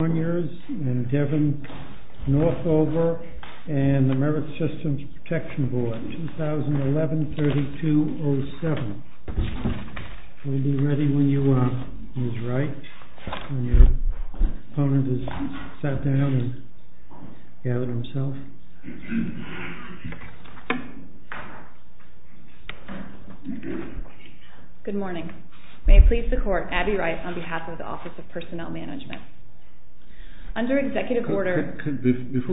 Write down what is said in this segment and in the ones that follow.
and DEVON NORTHOVER and the Merit Systems Protection Board, 2011-3207. We'll be ready when you are, Ms. Wright, when your opponent has sat down and gathered himself. Good morning. May it please the Court, Abby Wright on behalf of the Office of Personnel Management. Before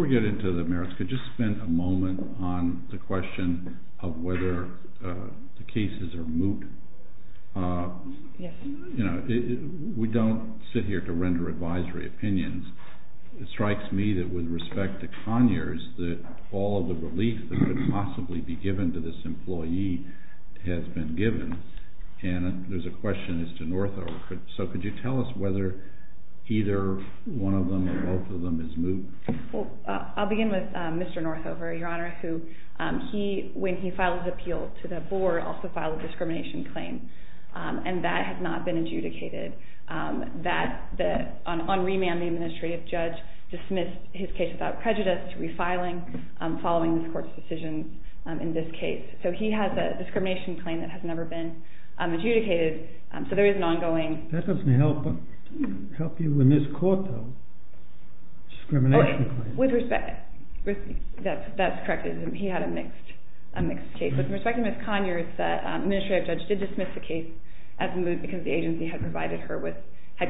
we get into the merits, could we just spend a moment on the question of whether the cases are moot? You know, we don't sit here to render advisory opinions. It strikes me that with respect to Conyers that all of the relief that could possibly be given to this employee has been given. And there's a question as to Northover. So could you tell us whether either one of them or both of them is moot? Well, I'll begin with Mr. Northover, Your Honor, who, when he filed his appeal to the Board, also filed a discrimination claim. And that has not been adjudicated. On remand, the administrative judge dismissed his case without prejudice to refiling, following this Court's decision in this case. So he has a discrimination claim that has never been adjudicated. That doesn't help you in this Court, though, discrimination claims. That's corrected. He had a mixed case. With respect to Ms. Conyers, the administrative judge did dismiss the case as moot because the agency had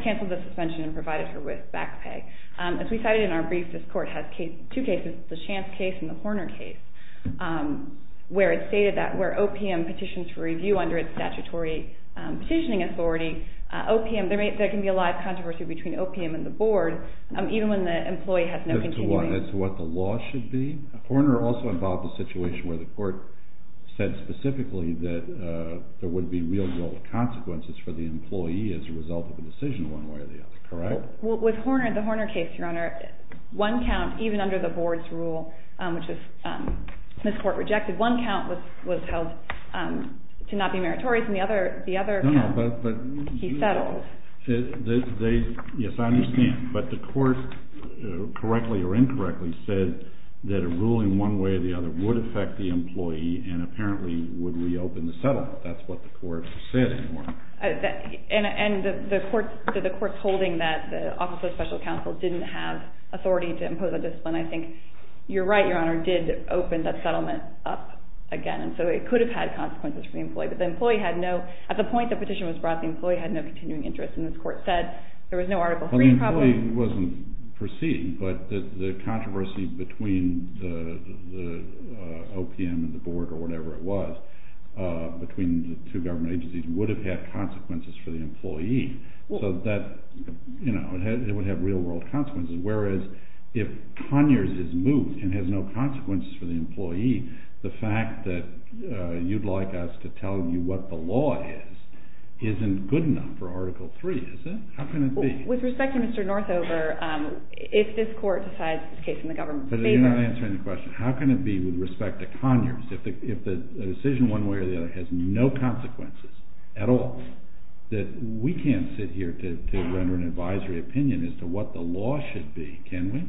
canceled the suspension and provided her with back pay. As we cited in our brief, this Court has two cases, the Chance case and the Horner case, where it stated that where OPM petitions for review under its statutory petitioning authority, there can be a live controversy between OPM and the Board, even when the employee has no continuity. As to what the law should be? Horner also involved a situation where the Court said specifically that there would be real-world consequences for the employee as a result of a decision one way or the other, correct? With Horner, the Horner case, Your Honor, one count, even under the Board's rule, which this Court rejected, one count was held to not be meritorious and the other count he settled. Yes, I understand. But the Court, correctly or incorrectly, said that a ruling one way or the other would affect the employee and apparently would reopen the settlement. That's what the Court said in Horner. And the Court's holding that the Office of Special Counsel didn't have authority to impose a discipline, I think you're right, Your Honor, did open that settlement up again. And so it could have had consequences for the employee. But the employee had no, at the point the petition was brought, the employee had no continuing interest. And this Court said there was no Article III problem. The employee wasn't perceived, but the controversy between the OPM and the Board, or whatever it was, between the two government agencies, would have had consequences for the employee. So that, you know, it would have real-world consequences. Whereas if Conyers is moved and has no consequences for the employee, the fact that you'd like us to tell you what the law is, isn't good enough for Article III, is it? How can it be? With respect to Mr. Northover, if this Court decides this case in the government's favor... But you're not answering the question. How can it be with respect to Conyers? If the decision one way or the other has no consequences at all, that we can't sit here to render an advisory opinion as to what the law should be, can we?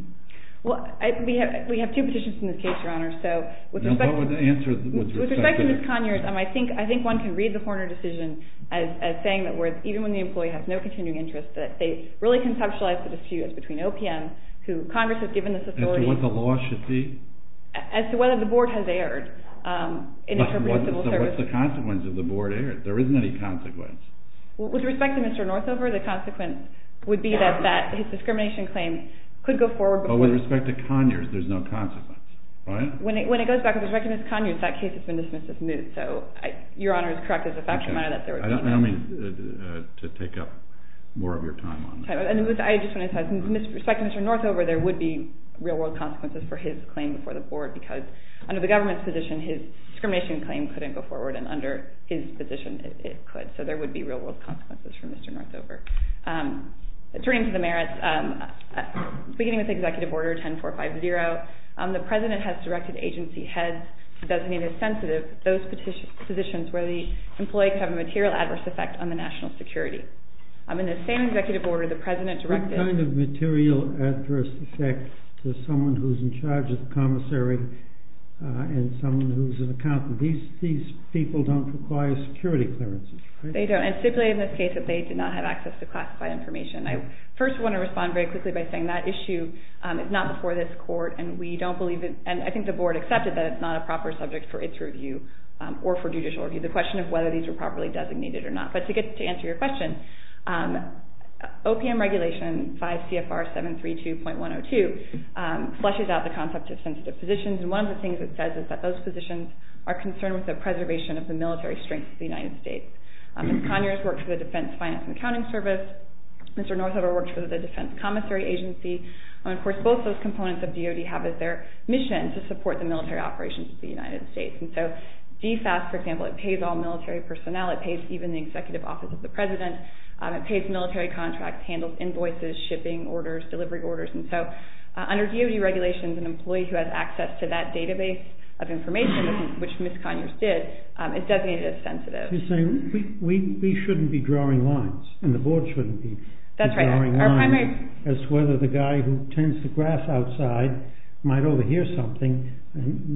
Well, we have two petitions in this case, Your Honor, so... Now, what would the answer, with respect to... With respect to Ms. Conyers, I think one can read the Horner decision as saying that even when the employee has no continuing interest, that they really conceptualize the dispute between OPM, who Congress has given this authority... As to what the law should be? As to whether the board has erred in interpreting civil service... But what's the consequence if the board erred? There isn't any consequence. With respect to Mr. Northover, the consequence would be that his discrimination claim could go forward before... But with respect to Conyers, there's no consequence, right? When it goes back to Ms. Conyers, that case has been dismissed as moot, so Your Honor is correct as a fact, Your Honor, that there was... I don't mean to take up more of your time on this. With respect to Mr. Northover, there would be real-world consequences for his claim before the board, because under the government's position, his discrimination claim couldn't go forward, and under his position, it could. So there would be real-world consequences for Mr. Northover. Turning to the merits, beginning with Executive Order 10450, the President has directed agency heads to designate as sensitive those positions where the employee could have a material adverse effect on the national security. In the same Executive Order, the President directed... What kind of material adverse effect to someone who's in charge of the commissary and someone who's an accountant? These people don't require security clearances, right? They don't, and simply in this case, that they did not have access to classified information. I first want to respond very quickly by saying that issue is not before this Court, and we don't believe it, and I think the board accepted that it's not a proper subject for its review, or for judicial review, the question of whether these were properly designated or not. But to answer your question, OPM Regulation 5 CFR 732.102 fleshes out the concept of sensitive positions, and one of the things it says is that those positions are concerned with the preservation of the military strength of the United States. Mr. Conyers worked for the Defense Finance and Accounting Service. Mr. Northover worked for the Defense Commissary Agency. Of course, both those components of DOD have as their mission to support the military operations of the United States. And so DFAS, for example, it pays all military personnel. It pays even the Executive Office of the President. It pays military contracts, handles invoices, shipping orders, delivery orders. And so under DOD regulations, an employee who has access to that database of information, which Ms. Conyers did, is designated as sensitive. You're saying we shouldn't be drawing lines, and the board shouldn't be drawing lines, as to whether the guy who turns the grass outside might overhear something.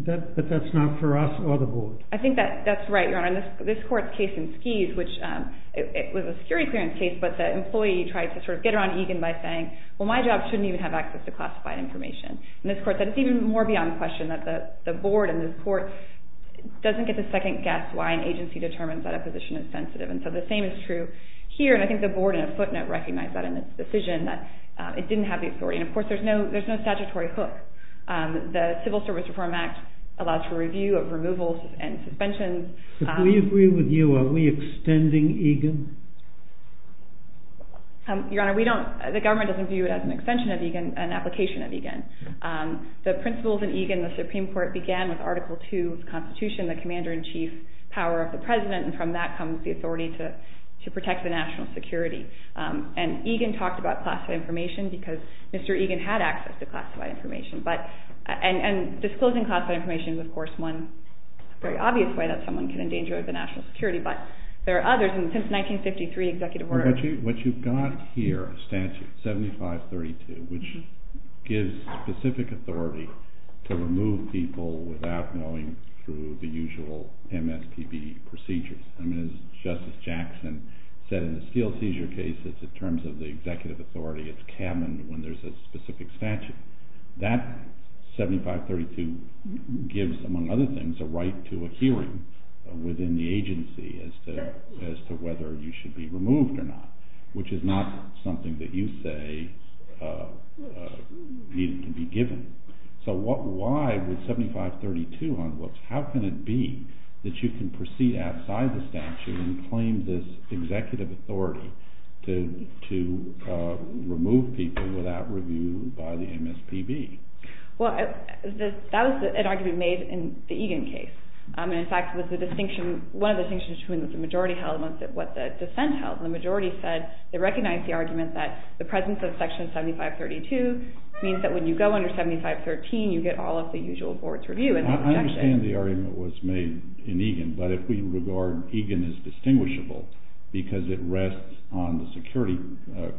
But that's not for us or the board. I think that's right, Your Honor. In this court's case in Skies, which was a security clearance case, but the employee tried to sort of get around Egan by saying, well, my job shouldn't even have access to classified information. And this court said it's even more beyond question that the board in this court doesn't get to second guess why an agency determines that a position is sensitive. And so the same is true here, and I think the board in a footnote recognized that in its decision, that it didn't have the authority. And, of course, there's no statutory hook. The Civil Service Reform Act allows for review of removals and suspensions. We agree with you. Are we extending Egan? Your Honor, we don't. The government doesn't view it as an extension of Egan, an application of Egan. The principles in Egan, the Supreme Court began with Article II of the Constitution, the commander-in-chief power of the president, and from that comes the authority to protect the national security. And Egan talked about classified information because Mr. Egan had access to classified information. And disclosing classified information is, of course, one very obvious way that someone can endanger the national security, but there are others, and since 1953, executive orders. What you've got here, a statute, 7532, which gives specific authority to remove people without going through the usual MSPB procedures. I mean, as Justice Jackson said in the steel seizure cases, in terms of the executive authority, it's canon when there's a specific statute. That 7532 gives, among other things, a right to a hearing within the agency as to whether you should be removed or not, which is not something that you say needed to be given. So why would 7532, how can it be that you can proceed outside the statute and claim this executive authority to remove people without review by the MSPB? Well, that was an argument made in the Egan case. In fact, one of the distinctions between what the majority held and what the dissent held, the majority said they recognized the argument that the presence of section 7532 means that when you go under 7513, you get all of the usual board's review. I understand the argument was made in Egan, but if we regard Egan as distinguishable because it rests on the security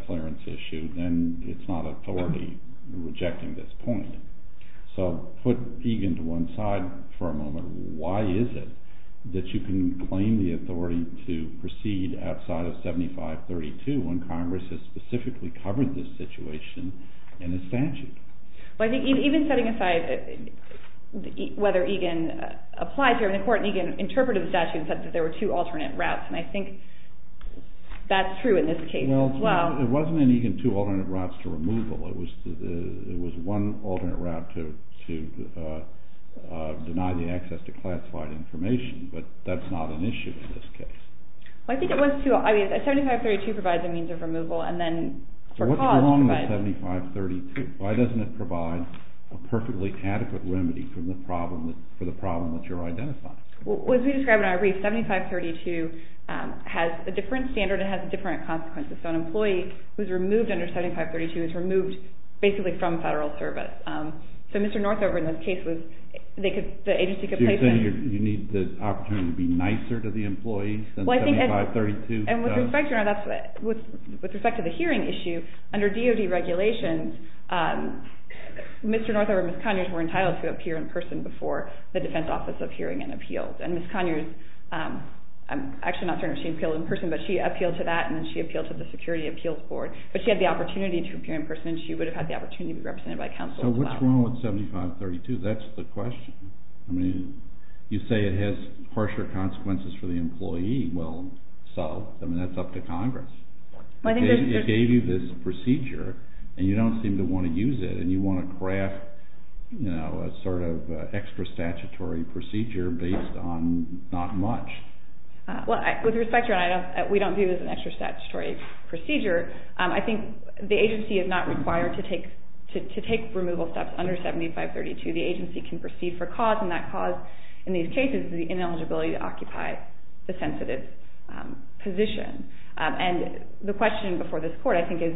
clearance issue, then it's not authority rejecting this point. So put Egan to one side for a moment. Why is it that you can claim the authority to proceed outside of 7532 when Congress has specifically covered this situation in a statute? Well, I think even setting aside whether Egan applies here, the court in Egan interpreted the statute and said that there were two alternate routes, and I think that's true in this case as well. Well, it wasn't in Egan two alternate routes to removal. It was one alternate route to deny the access to classified information, but that's not an issue in this case. Well, I think it was two. I mean, 7532 provides a means of removal, and then for cause provides— why doesn't it provide a perfectly adequate remedy for the problem that you're identifying? Well, as we described in our brief, 7532 has a different standard. It has different consequences. So an employee who's removed under 7532 is removed basically from federal service. So Mr. Northover in this case was—the agency could place him— So you're saying you need the opportunity to be nicer to the employee than 7532 does? And with respect to the hearing issue, under DOD regulations, Mr. Northover and Ms. Conyers were entitled to appear in person before the Defense Office of Hearing and Appeals. And Ms. Conyers—I'm actually not certain if she appealed in person, but she appealed to that, and then she appealed to the Security Appeals Board. But she had the opportunity to appear in person, and she would have had the opportunity to be represented by counsel as well. So what's wrong with 7532? That's the question. I mean, you say it has harsher consequences for the employee. Well, so, I mean, that's up to Congress. It gave you this procedure, and you don't seem to want to use it, and you want to craft a sort of extra-statutory procedure based on not much. Well, with respect to—we don't view it as an extra-statutory procedure. I think the agency is not required to take removal steps under 7532. The agency can proceed for cause, and that cause in these cases is the ineligibility to occupy the sensitive position. And the question before this Court, I think, is,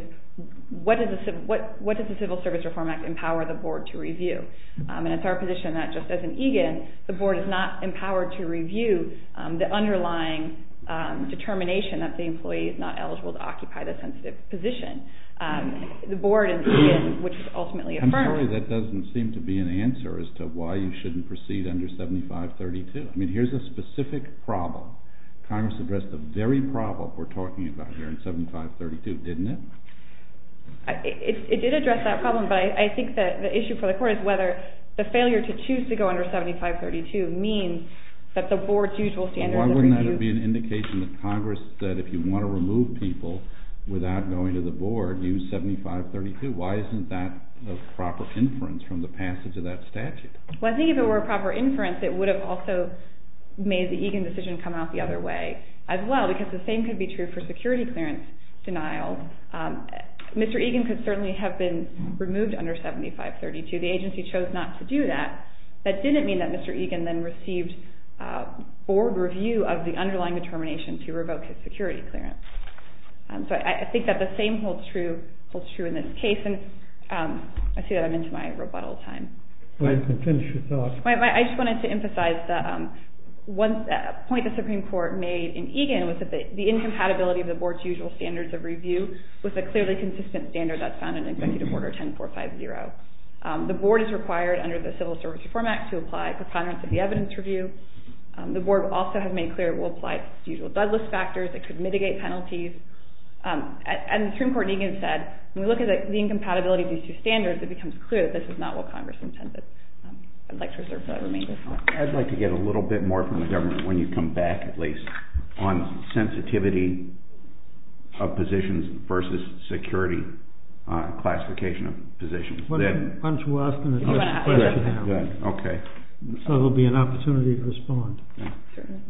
what does the Civil Service Reform Act empower the Board to review? And it's our position that just as an EGAN, the Board is not empowered to review the underlying determination that the employee is not eligible to occupy the sensitive position. The Board and EGAN, which is ultimately a firm— I'm sorry, that doesn't seem to be an answer as to why you shouldn't proceed under 7532. I mean, here's a specific problem. Congress addressed the very problem we're talking about here in 7532, didn't it? It did address that problem, but I think that the issue for the Court is whether the failure to choose to go under 7532 means that the Board's usual standards of review— Well, why wouldn't that be an indication that Congress said, if you want to remove people without going to the Board, use 7532? Why isn't that a proper inference from the passage of that statute? Well, I think if it were a proper inference, it would have also made the EGAN decision come out the other way as well, because the same could be true for security clearance denial. Mr. EGAN could certainly have been removed under 7532. The agency chose not to do that. That didn't mean that Mr. EGAN then received Board review of the underlying determination to revoke his security clearance. So I think that the same holds true in this case, and I see that I'm into my rebuttal time. Go ahead and finish your thought. I just wanted to emphasize that one point the Supreme Court made in EGAN was that the incompatibility of the Board's usual standards of review was a clearly consistent standard that's found in Executive Order 10450. The Board is required under the Civil Service Reform Act to apply preponderance of the evidence review. The Board also has made clear it will apply to its usual Douglas factors. It could mitigate penalties. And the Supreme Court in EGAN said, when we look at the incompatibility of these two standards, it becomes clear that this is not what Congress intended. I'd like to reserve that remainder. I'd like to get a little bit more from the government, when you come back at least, on sensitivity of positions versus security classification of positions. Why don't you ask them the question now? Okay. So there will be an opportunity to respond.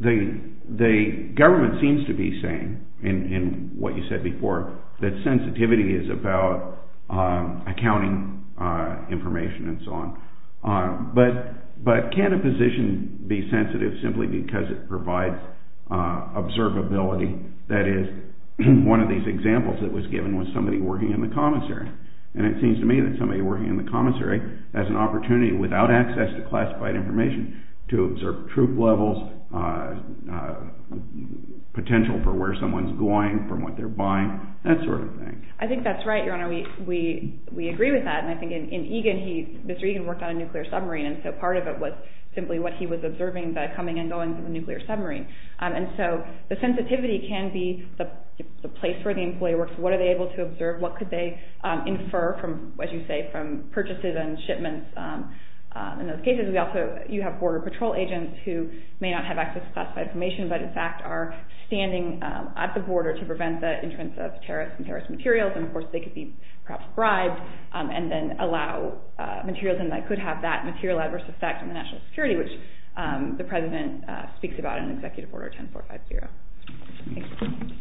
The government seems to be saying, in what you said before, that sensitivity is about accounting information and so on. But can a position be sensitive simply because it provides observability? That is, one of these examples that was given was somebody working in the commissary. And it seems to me that somebody working in the commissary has an opportunity, without access to classified information, to observe troop levels, potential for where someone's going, from what they're buying, that sort of thing. I think that's right, Your Honor. We agree with that. And I think in EGAN, Mr. EGAN worked on a nuclear submarine, and so part of it was simply what he was observing, the coming and going of a nuclear submarine. And so the sensitivity can be the place where the employee works. What are they able to observe? What could they infer, as you say, from purchases and shipments? In those cases, you have border patrol agents who may not have access to classified information, but in fact are standing at the border to prevent the entrance of terrorists and terrorist materials. And, of course, they could be perhaps bribed and then allow materials, and that could have that material adverse effect on the national security, which the President speaks about in Executive Order 10450. Thank you.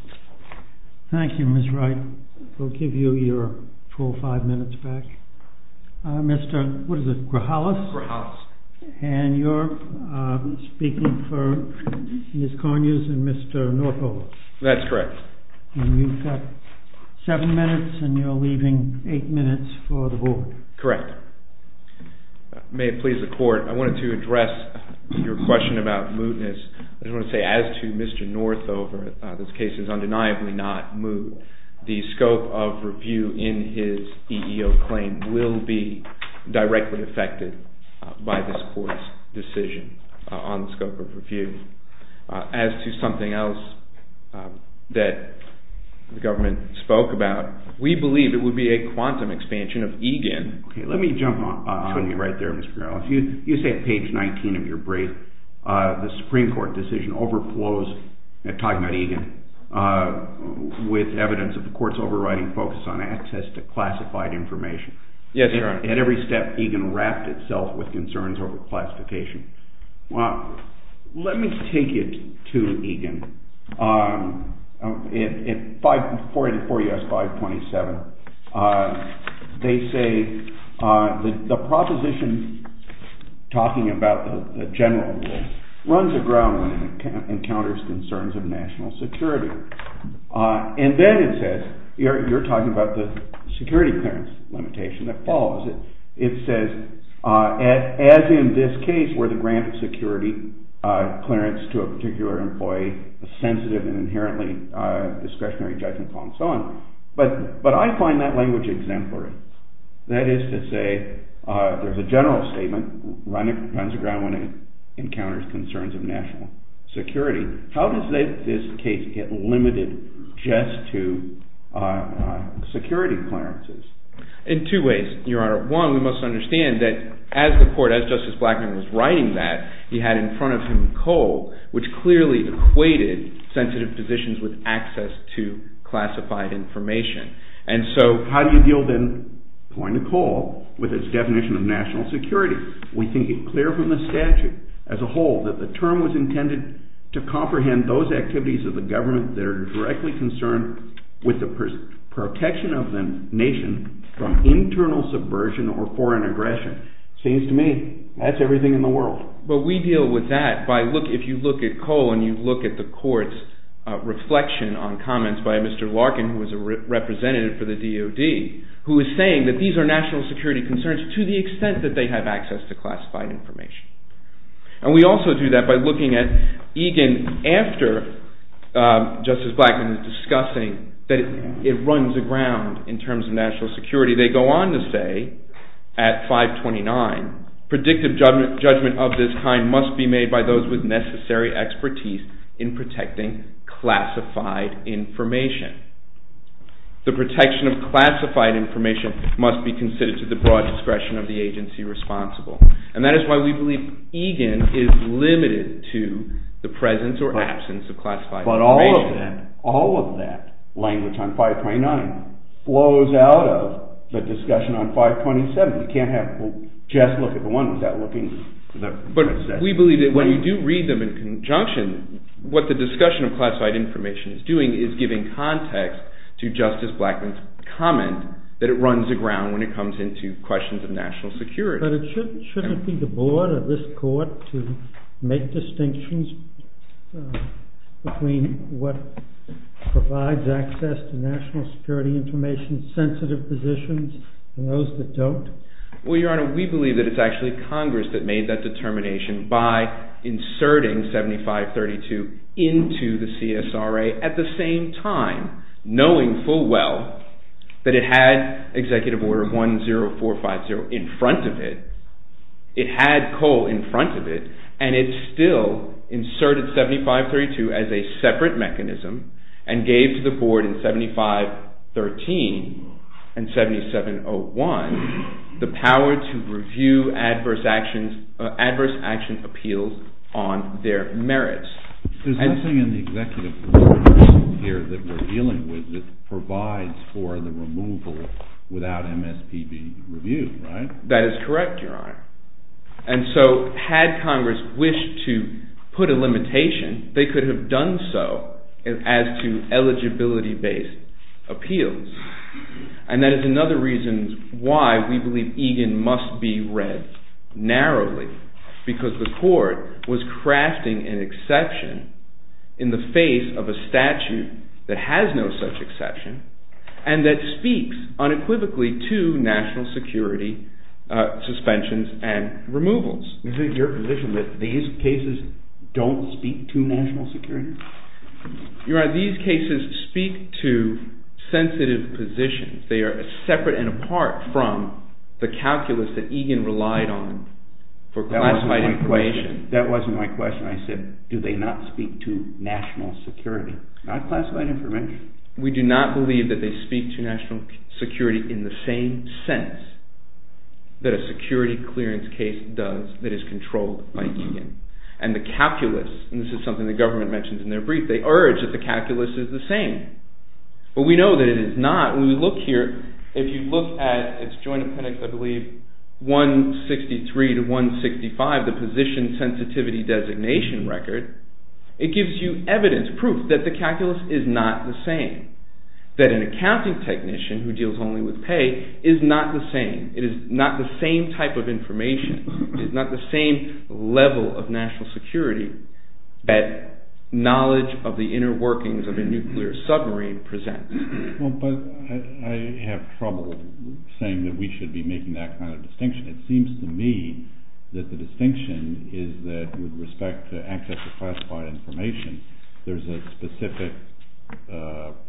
Thank you, Ms. Wright. We'll give you your full five minutes back. Mr. Grahalis? Grahalis. And you're speaking for Ms. Conyers and Mr. Northover? That's correct. And you've got seven minutes, and you're leaving eight minutes for the board. Correct. May it please the Court, I wanted to address your question about mootness. I just want to say, as to Mr. Northover, this case is undeniably not moot. The scope of review in his EEO claim will be directly affected by this Court's decision on the scope of review. As to something else that the government spoke about, we believe it would be a quantum expansion of EGAN. Okay, let me jump on you right there, Mr. Grahalis. You say at page 19 of your brief, the Supreme Court decision overflows, talking about EGAN, with evidence of the Court's overriding focus on access to classified information. Yes, Your Honor. At every step, EGAN wrapped itself with concerns over classification. Well, let me take it to EGAN. In 484 U.S. 527, they say the proposition talking about the general rule runs aground when it encounters concerns of national security. And then it says, you're talking about the security clearance limitation that follows it. It says, as in this case, where the grant of security clearance to a particular employee is sensitive and inherently discretionary, judgmental, and so on. But I find that language exemplary. That is to say, there's a general statement runs aground when it encounters concerns of national security. How does this case get limited just to security clearances? In two ways, Your Honor. One, we must understand that as the Court, as Justice Blackmun was writing that, he had in front of him coal, which clearly equated sensitive positions with access to classified information. And so... How do you deal then, point of coal, with its definition of national security? We think it clear from the statute as a whole that the term was intended to comprehend those activities of the government that are directly concerned with the protection of the nation from internal subversion or foreign aggression. Seems to me, that's everything in the world. But we deal with that by, if you look at coal, and you look at the Court's reflection on comments by Mr. Larkin, who was a representative for the DOD, who was saying that these are national security concerns to the extent that they have access to classified information. And we also do that by looking at Egan after Justice Blackmun is discussing that it runs aground in terms of national security. They go on to say, at 529, predictive judgment of this kind must be made by those with necessary expertise in protecting classified information. The protection of classified information must be considered to the broad discretion of the agency responsible. And that is why we believe Egan is limited to the presence or absence of classified information. But all of that, all of that language on 529 flows out of the discussion on 527. You can't just look at the one without looking... But we believe that when you do read them in conjunction, what the discussion of classified information is doing is giving context to Justice Blackmun's comment that it runs aground when it comes into questions of national security. But shouldn't it be the Board or this Court to make distinctions between what provides access to national security information, sensitive positions, and those that don't? Well, Your Honor, we believe that it's actually Congress that made that determination by inserting 7532 into the CSRA at the same time, knowing full well that it had Executive Order 10450 in front of it, it had Cole in front of it, and it still inserted 7532 as a separate mechanism and gave to the Board in 7513 and 7701 the power to review adverse action appeals on their merits. There's nothing in the Executive Order here that we're dealing with that provides for the removal without MSPB review, right? That is correct, Your Honor. And so had Congress wished to put a limitation, they could have done so as to eligibility-based appeals. And that is another reason why we believe narrowly because the Court was crafting an exception in the face of a statute that has no such exception and that speaks unequivocally to national security suspensions and removals. Is it your position that these cases don't speak to national security? Your Honor, these cases speak to sensitive positions. They are separate and apart from the calculus that Egan relied on for classified information. That wasn't my question. I said, do they not speak to national security? Not classified information. We do not believe that they speak to national security in the same sense that a security clearance case does that is controlled by Egan. And the calculus, and this is something the government mentions in their brief, they urge that the calculus is the same. But we know that it is not. When we look here, if you look at its joint appendix, I believe 163 to 165, the position sensitivity designation record, it gives you evidence, proof that the calculus is not the same. That an accounting technician who deals only with pay is not the same. It is not the same type of information. It is not the same level of national security that knowledge of the inner workings of a nuclear submarine presents. Well, but I have trouble saying that we should be making that kind of distinction. It seems to me that the distinction is that with respect to access to classified information, there's a specific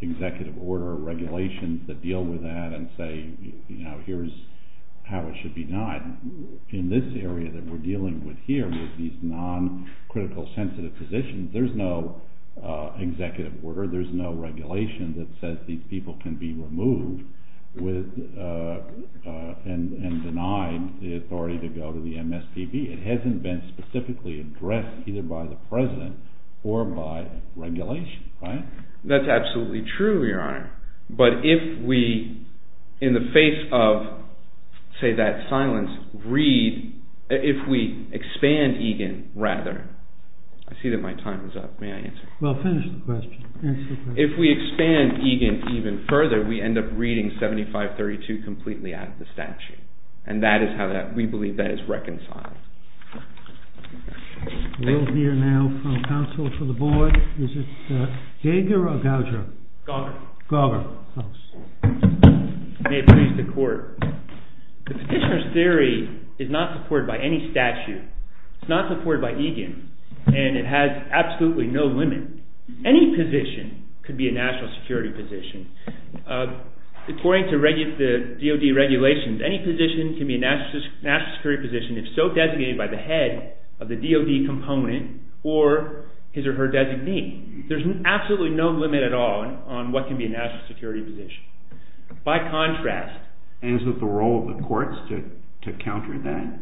executive order regulation that deal with that and say, here's how it should be done. In this area that we're dealing with here, with these non-critical sensitive positions, there's no executive order, there's no regulation that says these people can be removed and denied the authority to go to the MSPB. It hasn't been specifically addressed either by the president or by regulation, right? That's absolutely true, Your Honor. But if we, in the face of, say, that silence, read, if we expand EGAN, rather, I see that my time is up. May I answer? Well, finish the question. Answer the question. If we expand EGAN even further, we end up reading 7532 completely out of the statute. And that is how we believe that is reconciled. We'll hear now from counsel for the board. Is it Geiger or Goudreau? Goudreau. Goudreau. May it please the court. The petitioner's theory is not supported by any statute. It's not supported by EGAN. And it has absolutely no limit. Any position could be a national security position. According to DOD regulations, any position can be a national security position if so designated by the head of the DOD component or his or her designee. There's absolutely no limit at all on what can be a national security position. By contrast. And is it the role of the courts to counter that?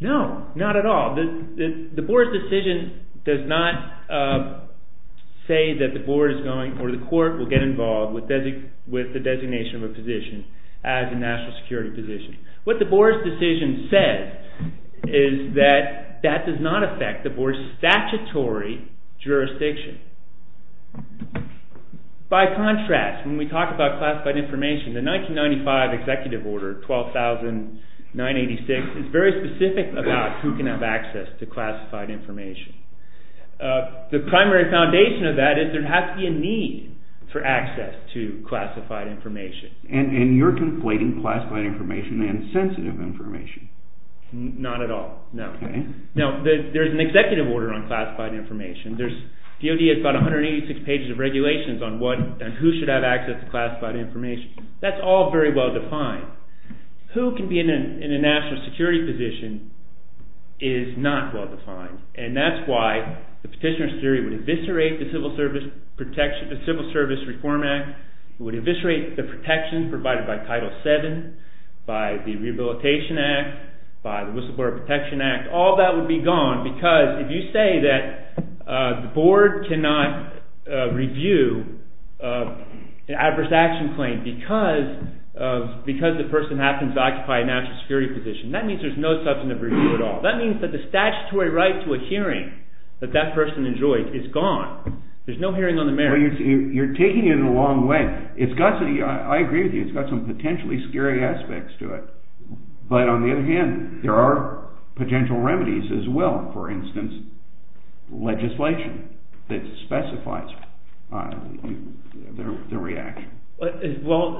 No, not at all. The board's decision does not say that the board is going or the court will get involved with the designation of a position as a national security position. What the board's decision says is that that does not affect the board's statutory jurisdiction. By contrast, when we talk about classified information, the 1995 executive order, 12,986, is very specific about who can have access to classified information. The primary foundation of that is there has to be a need for access to classified information. And you're conflating classified information and sensitive information. Not at all, no. Now, there's an executive order on classified information. DOD has about 186 pages of regulations on who should have access to classified information. That's all very well defined. Who can be in a national security position is not well defined. And that's why the petitioner's theory would eviscerate the Civil Service Reform Act, would eviscerate the protections provided by Title VII, by the Rehabilitation Act, by the Whistleblower Protection Act. All that would be gone because if you say that the board cannot review an adverse action claim because the person happens to occupy a national security position, that means there's no substantive review at all. That means that the statutory right to a hearing that that person enjoys is gone. There's no hearing on the merits. You're taking it a long way. I agree with you. It's got some potentially scary aspects to it. But on the other hand, there are potential remedies as well. For instance, legislation that specifies the reaction. Well,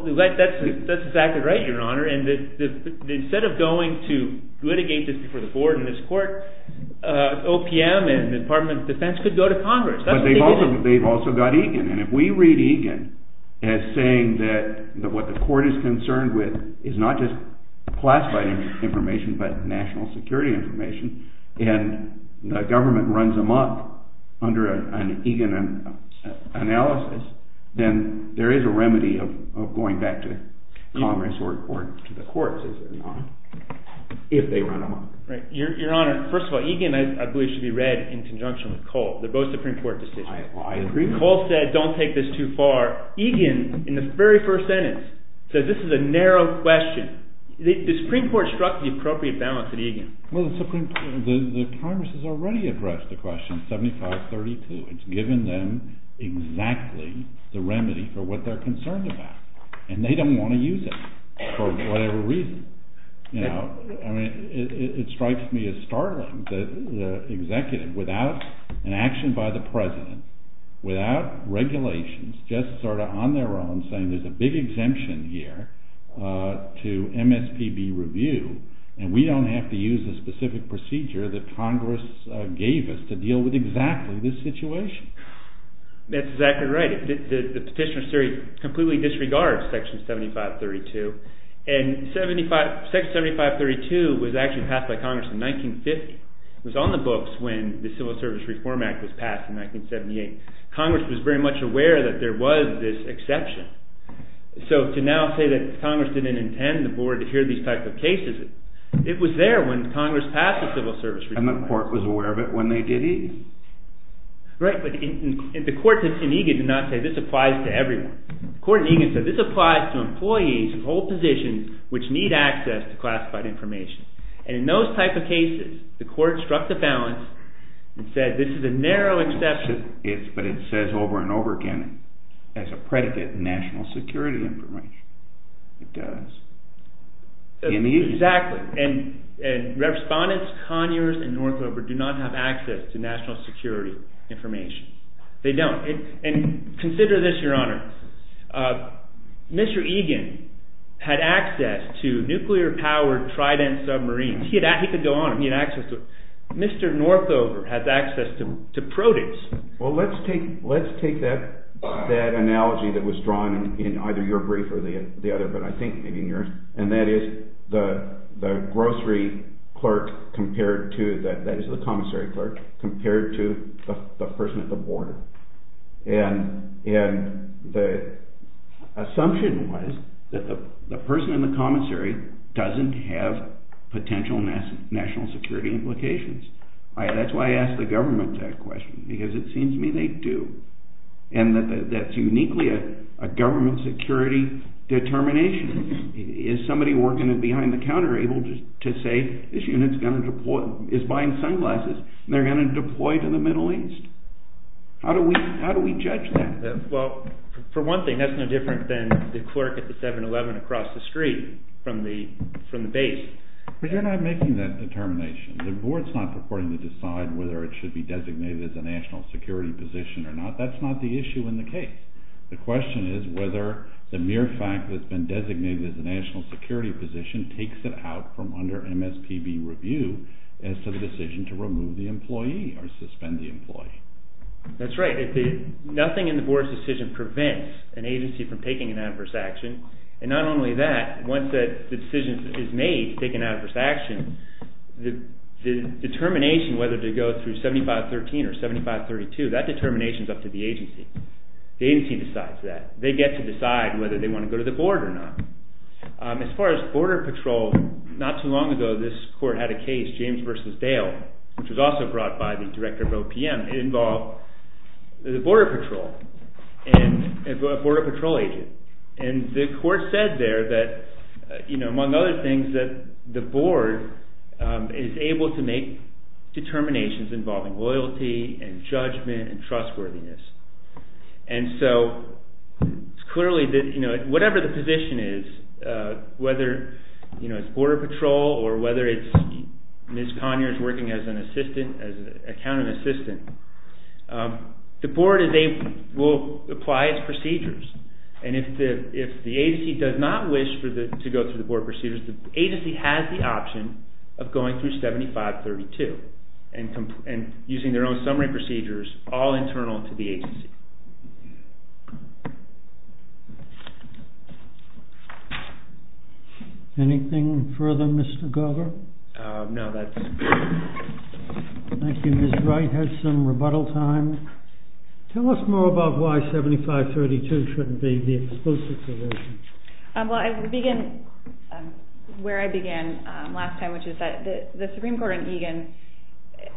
that's exactly right, Your Honor. Instead of going to litigate this before the board and this court, OPM and the Department of Defense could go to Congress. But they've also got EGAN. And if we read EGAN as saying that what the court is concerned with is not just classified information but national security information, and the government runs them up under an EGAN analysis, then there is a remedy of going back to Congress or to the courts, if they run them up. Your Honor, first of all, EGAN, I believe, should be read in conjunction with COLE. They're both Supreme Court decisions. COLE said, don't take this too far. EGAN, in the very first sentence, says this is a narrow question. The Supreme Court struck the appropriate balance at EGAN. Well, the Congress has already addressed the question, 7532. It's given them exactly the remedy for what they're concerned about. And they don't want to use it for whatever reason. You know, I mean, it strikes me as startling that an executive without an action by the president, without regulations, just sort of on their own saying there's a big exemption here to MSPB review, and we don't have to use the specific procedure that Congress gave us to deal with exactly this situation. That's exactly right. The Petitioner's Theory completely disregards section 7532. And section 7532 was actually passed by Congress in 1950. It was on the books when the Civil Service Reform Act was passed in 1978. Congress was very much aware that there was this exception. So to now say that Congress didn't intend the board to hear these types of cases, it was there when Congress passed the Civil Service Reform Act. And the court was aware of it when they did Egan. Right, but the court in Egan did not say, this applies to everyone. The court in Egan said, this applies to employees who hold positions which need access to classified information. And in those type of cases, the court struck the balance and said this is a narrow exception. But it says over and over again as a predicate in national security information. It does. Exactly. And Respondents Conyers and Northover do not have access to national security information. They don't. And consider this, Your Honor. Mr. Egan had access to nuclear-powered Trident submarines. He could go on. Mr. Northover has access to produce. Well, let's take that analogy that was drawn in either your brief or the other, but I think maybe in yours. And that is the grocery clerk compared to, that is the commissary clerk, compared to the person at the border. And the assumption was that the person in the commissary doesn't have potential national security implications. That's why I asked the government that question, because it seems to me they do. And that's uniquely a government security determination. Is somebody working behind the counter able to say this unit is buying sunglasses and they're going to deploy to the Middle East? How do we judge that? Well, for one thing, that's no different than the clerk at the 7-Eleven across the street from the base. But you're not making that determination. The board's not purporting to decide whether it should be designated as a national security position or not. That's not the issue in the case. The question is whether the mere fact that it's been designated as a national security position takes it out from under MSPB review as to the decision to remove the employee or suspend the employee. That's right. Nothing in the board's decision prevents an agency from taking an adverse action. And not only that, once the decision is made to take an adverse action, the determination whether to go through 7513 or 7532, that determination is up to the agency. The agency decides that. They get to decide whether they want to go to the board or not. As far as Border Patrol, not too long ago this court had a case, James v. Dale, which was also brought by the director of OPM. It involved the Border Patrol and a Border Patrol agent. And the court said there that, among other things, that the board is able to make determinations involving loyalty and judgment and trustworthiness. And so it's clearly that whatever the position is, whether it's Border Patrol or whether it's Ms. Conyers working as an accountant assistant, the board will apply its procedures. And if the agency does not wish to go through the board procedures, the agency has the option of going through 7532 and using their own summary procedures, all internal to the agency. Anything further, Mr. Gover? No, that's it. Thank you. Ms. Wright has some rebuttal time. Tell us more about why 7532 shouldn't be the exclusive provision. Well, I would begin where I began last time, which is that the Supreme Court and Egan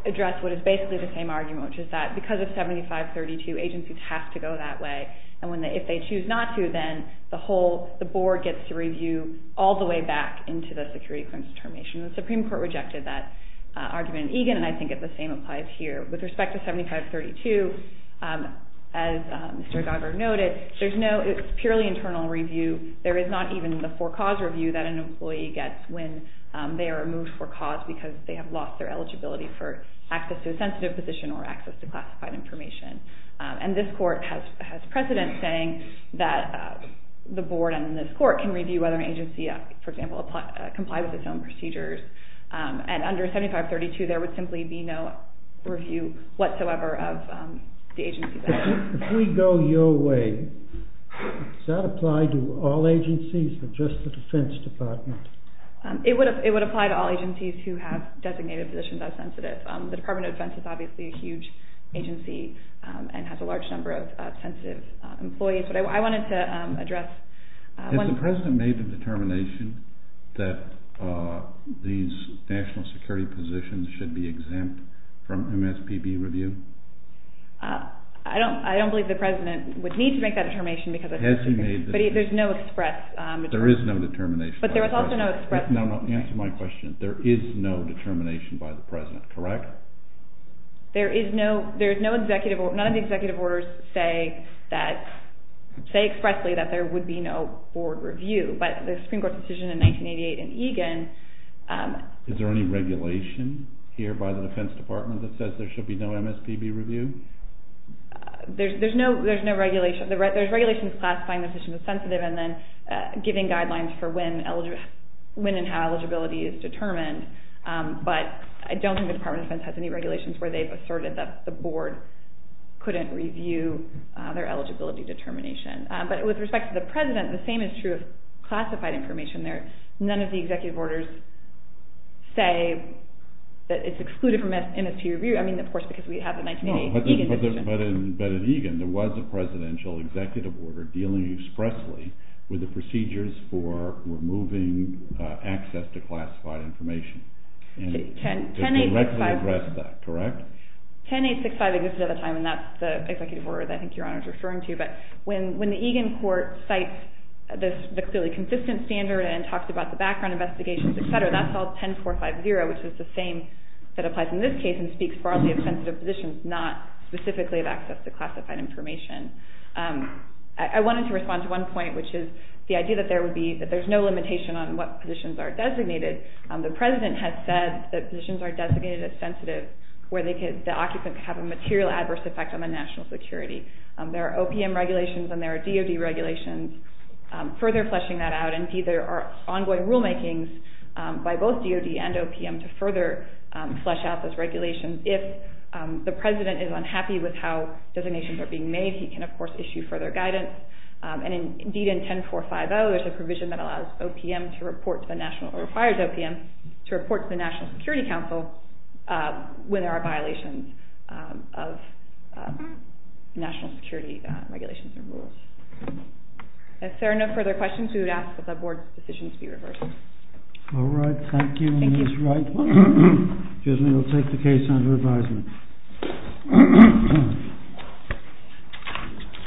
address what is basically the same argument, which is that because of 7532, agencies have to go that way. And if they choose not to, then the board gets to review all the way back into the security claims determination. The Supreme Court rejected that argument in Egan, and I think the same applies here. With respect to 7532, as Mr. Gover noted, it's purely internal review. There is not even the for-cause review that an employee gets when they are removed for cause because they have lost their eligibility for access to a sensitive position or access to classified information. And this court has precedent saying that the board and this court can review whether an agency, for example, complies with its own procedures. And under 7532, there would simply be no review whatsoever of the agency's actions. If we go your way, does that apply to all agencies or just the Defense Department? It would apply to all agencies who have designated positions as sensitive. The Department of Defense is obviously a huge agency and has a large number of sensitive employees. But I wanted to address... Has the president made the determination that these national security positions should be exempt from MSPB review? I don't believe the president would need to make that determination because... But there's no express... There is no determination. Answer my question. There is no determination by the president, correct? There is no executive... None of the executive orders say expressly that there would be no board review. But the Supreme Court's decision in 1988 in Egan... Is there any regulation here by the Defense Department that says there should be no MSPB review? There's regulations classifying positions as sensitive and then giving guidelines for when and how eligibility is determined. But I don't think the Department of Defense has any regulations where they've asserted that the board couldn't review their eligibility determination. But with respect to the president, the same is true of classified information there. None of the executive orders say that it's excluded from MSPB review. I mean, of course, because we have the 1988 Egan decision. But at Egan, there was a presidential executive order dealing expressly with the procedures for removing access to classified information. It directly addressed that, correct? 10.865 existed at the time, and that's the executive order that I think Your Honor is referring to. But when the Egan court cites the clearly consistent standard and talks about the background investigations, etc., that's all 10.450, which is the same that applies in this case and can speak broadly of sensitive positions, not specifically of access to classified information. I wanted to respond to one point, which is the idea that there would be... that there's no limitation on what positions are designated. The president has said that positions are designated as sensitive where the occupant could have a material adverse effect on the national security. There are OPM regulations and there are DOD regulations further fleshing that out, and there are ongoing rulemakings by both DOD and OPM to further flesh out those regulations. If the president is unhappy with how designations are being made, he can, of course, issue further guidance. And indeed, in 10.450, there's a provision that allows OPM to report to the national... or requires OPM to report to the National Security Council when there are violations of national security regulations and rules. If there are no further questions, we would ask that the board's decisions be reversed. All right, thank you. And we'll take the case under advisement.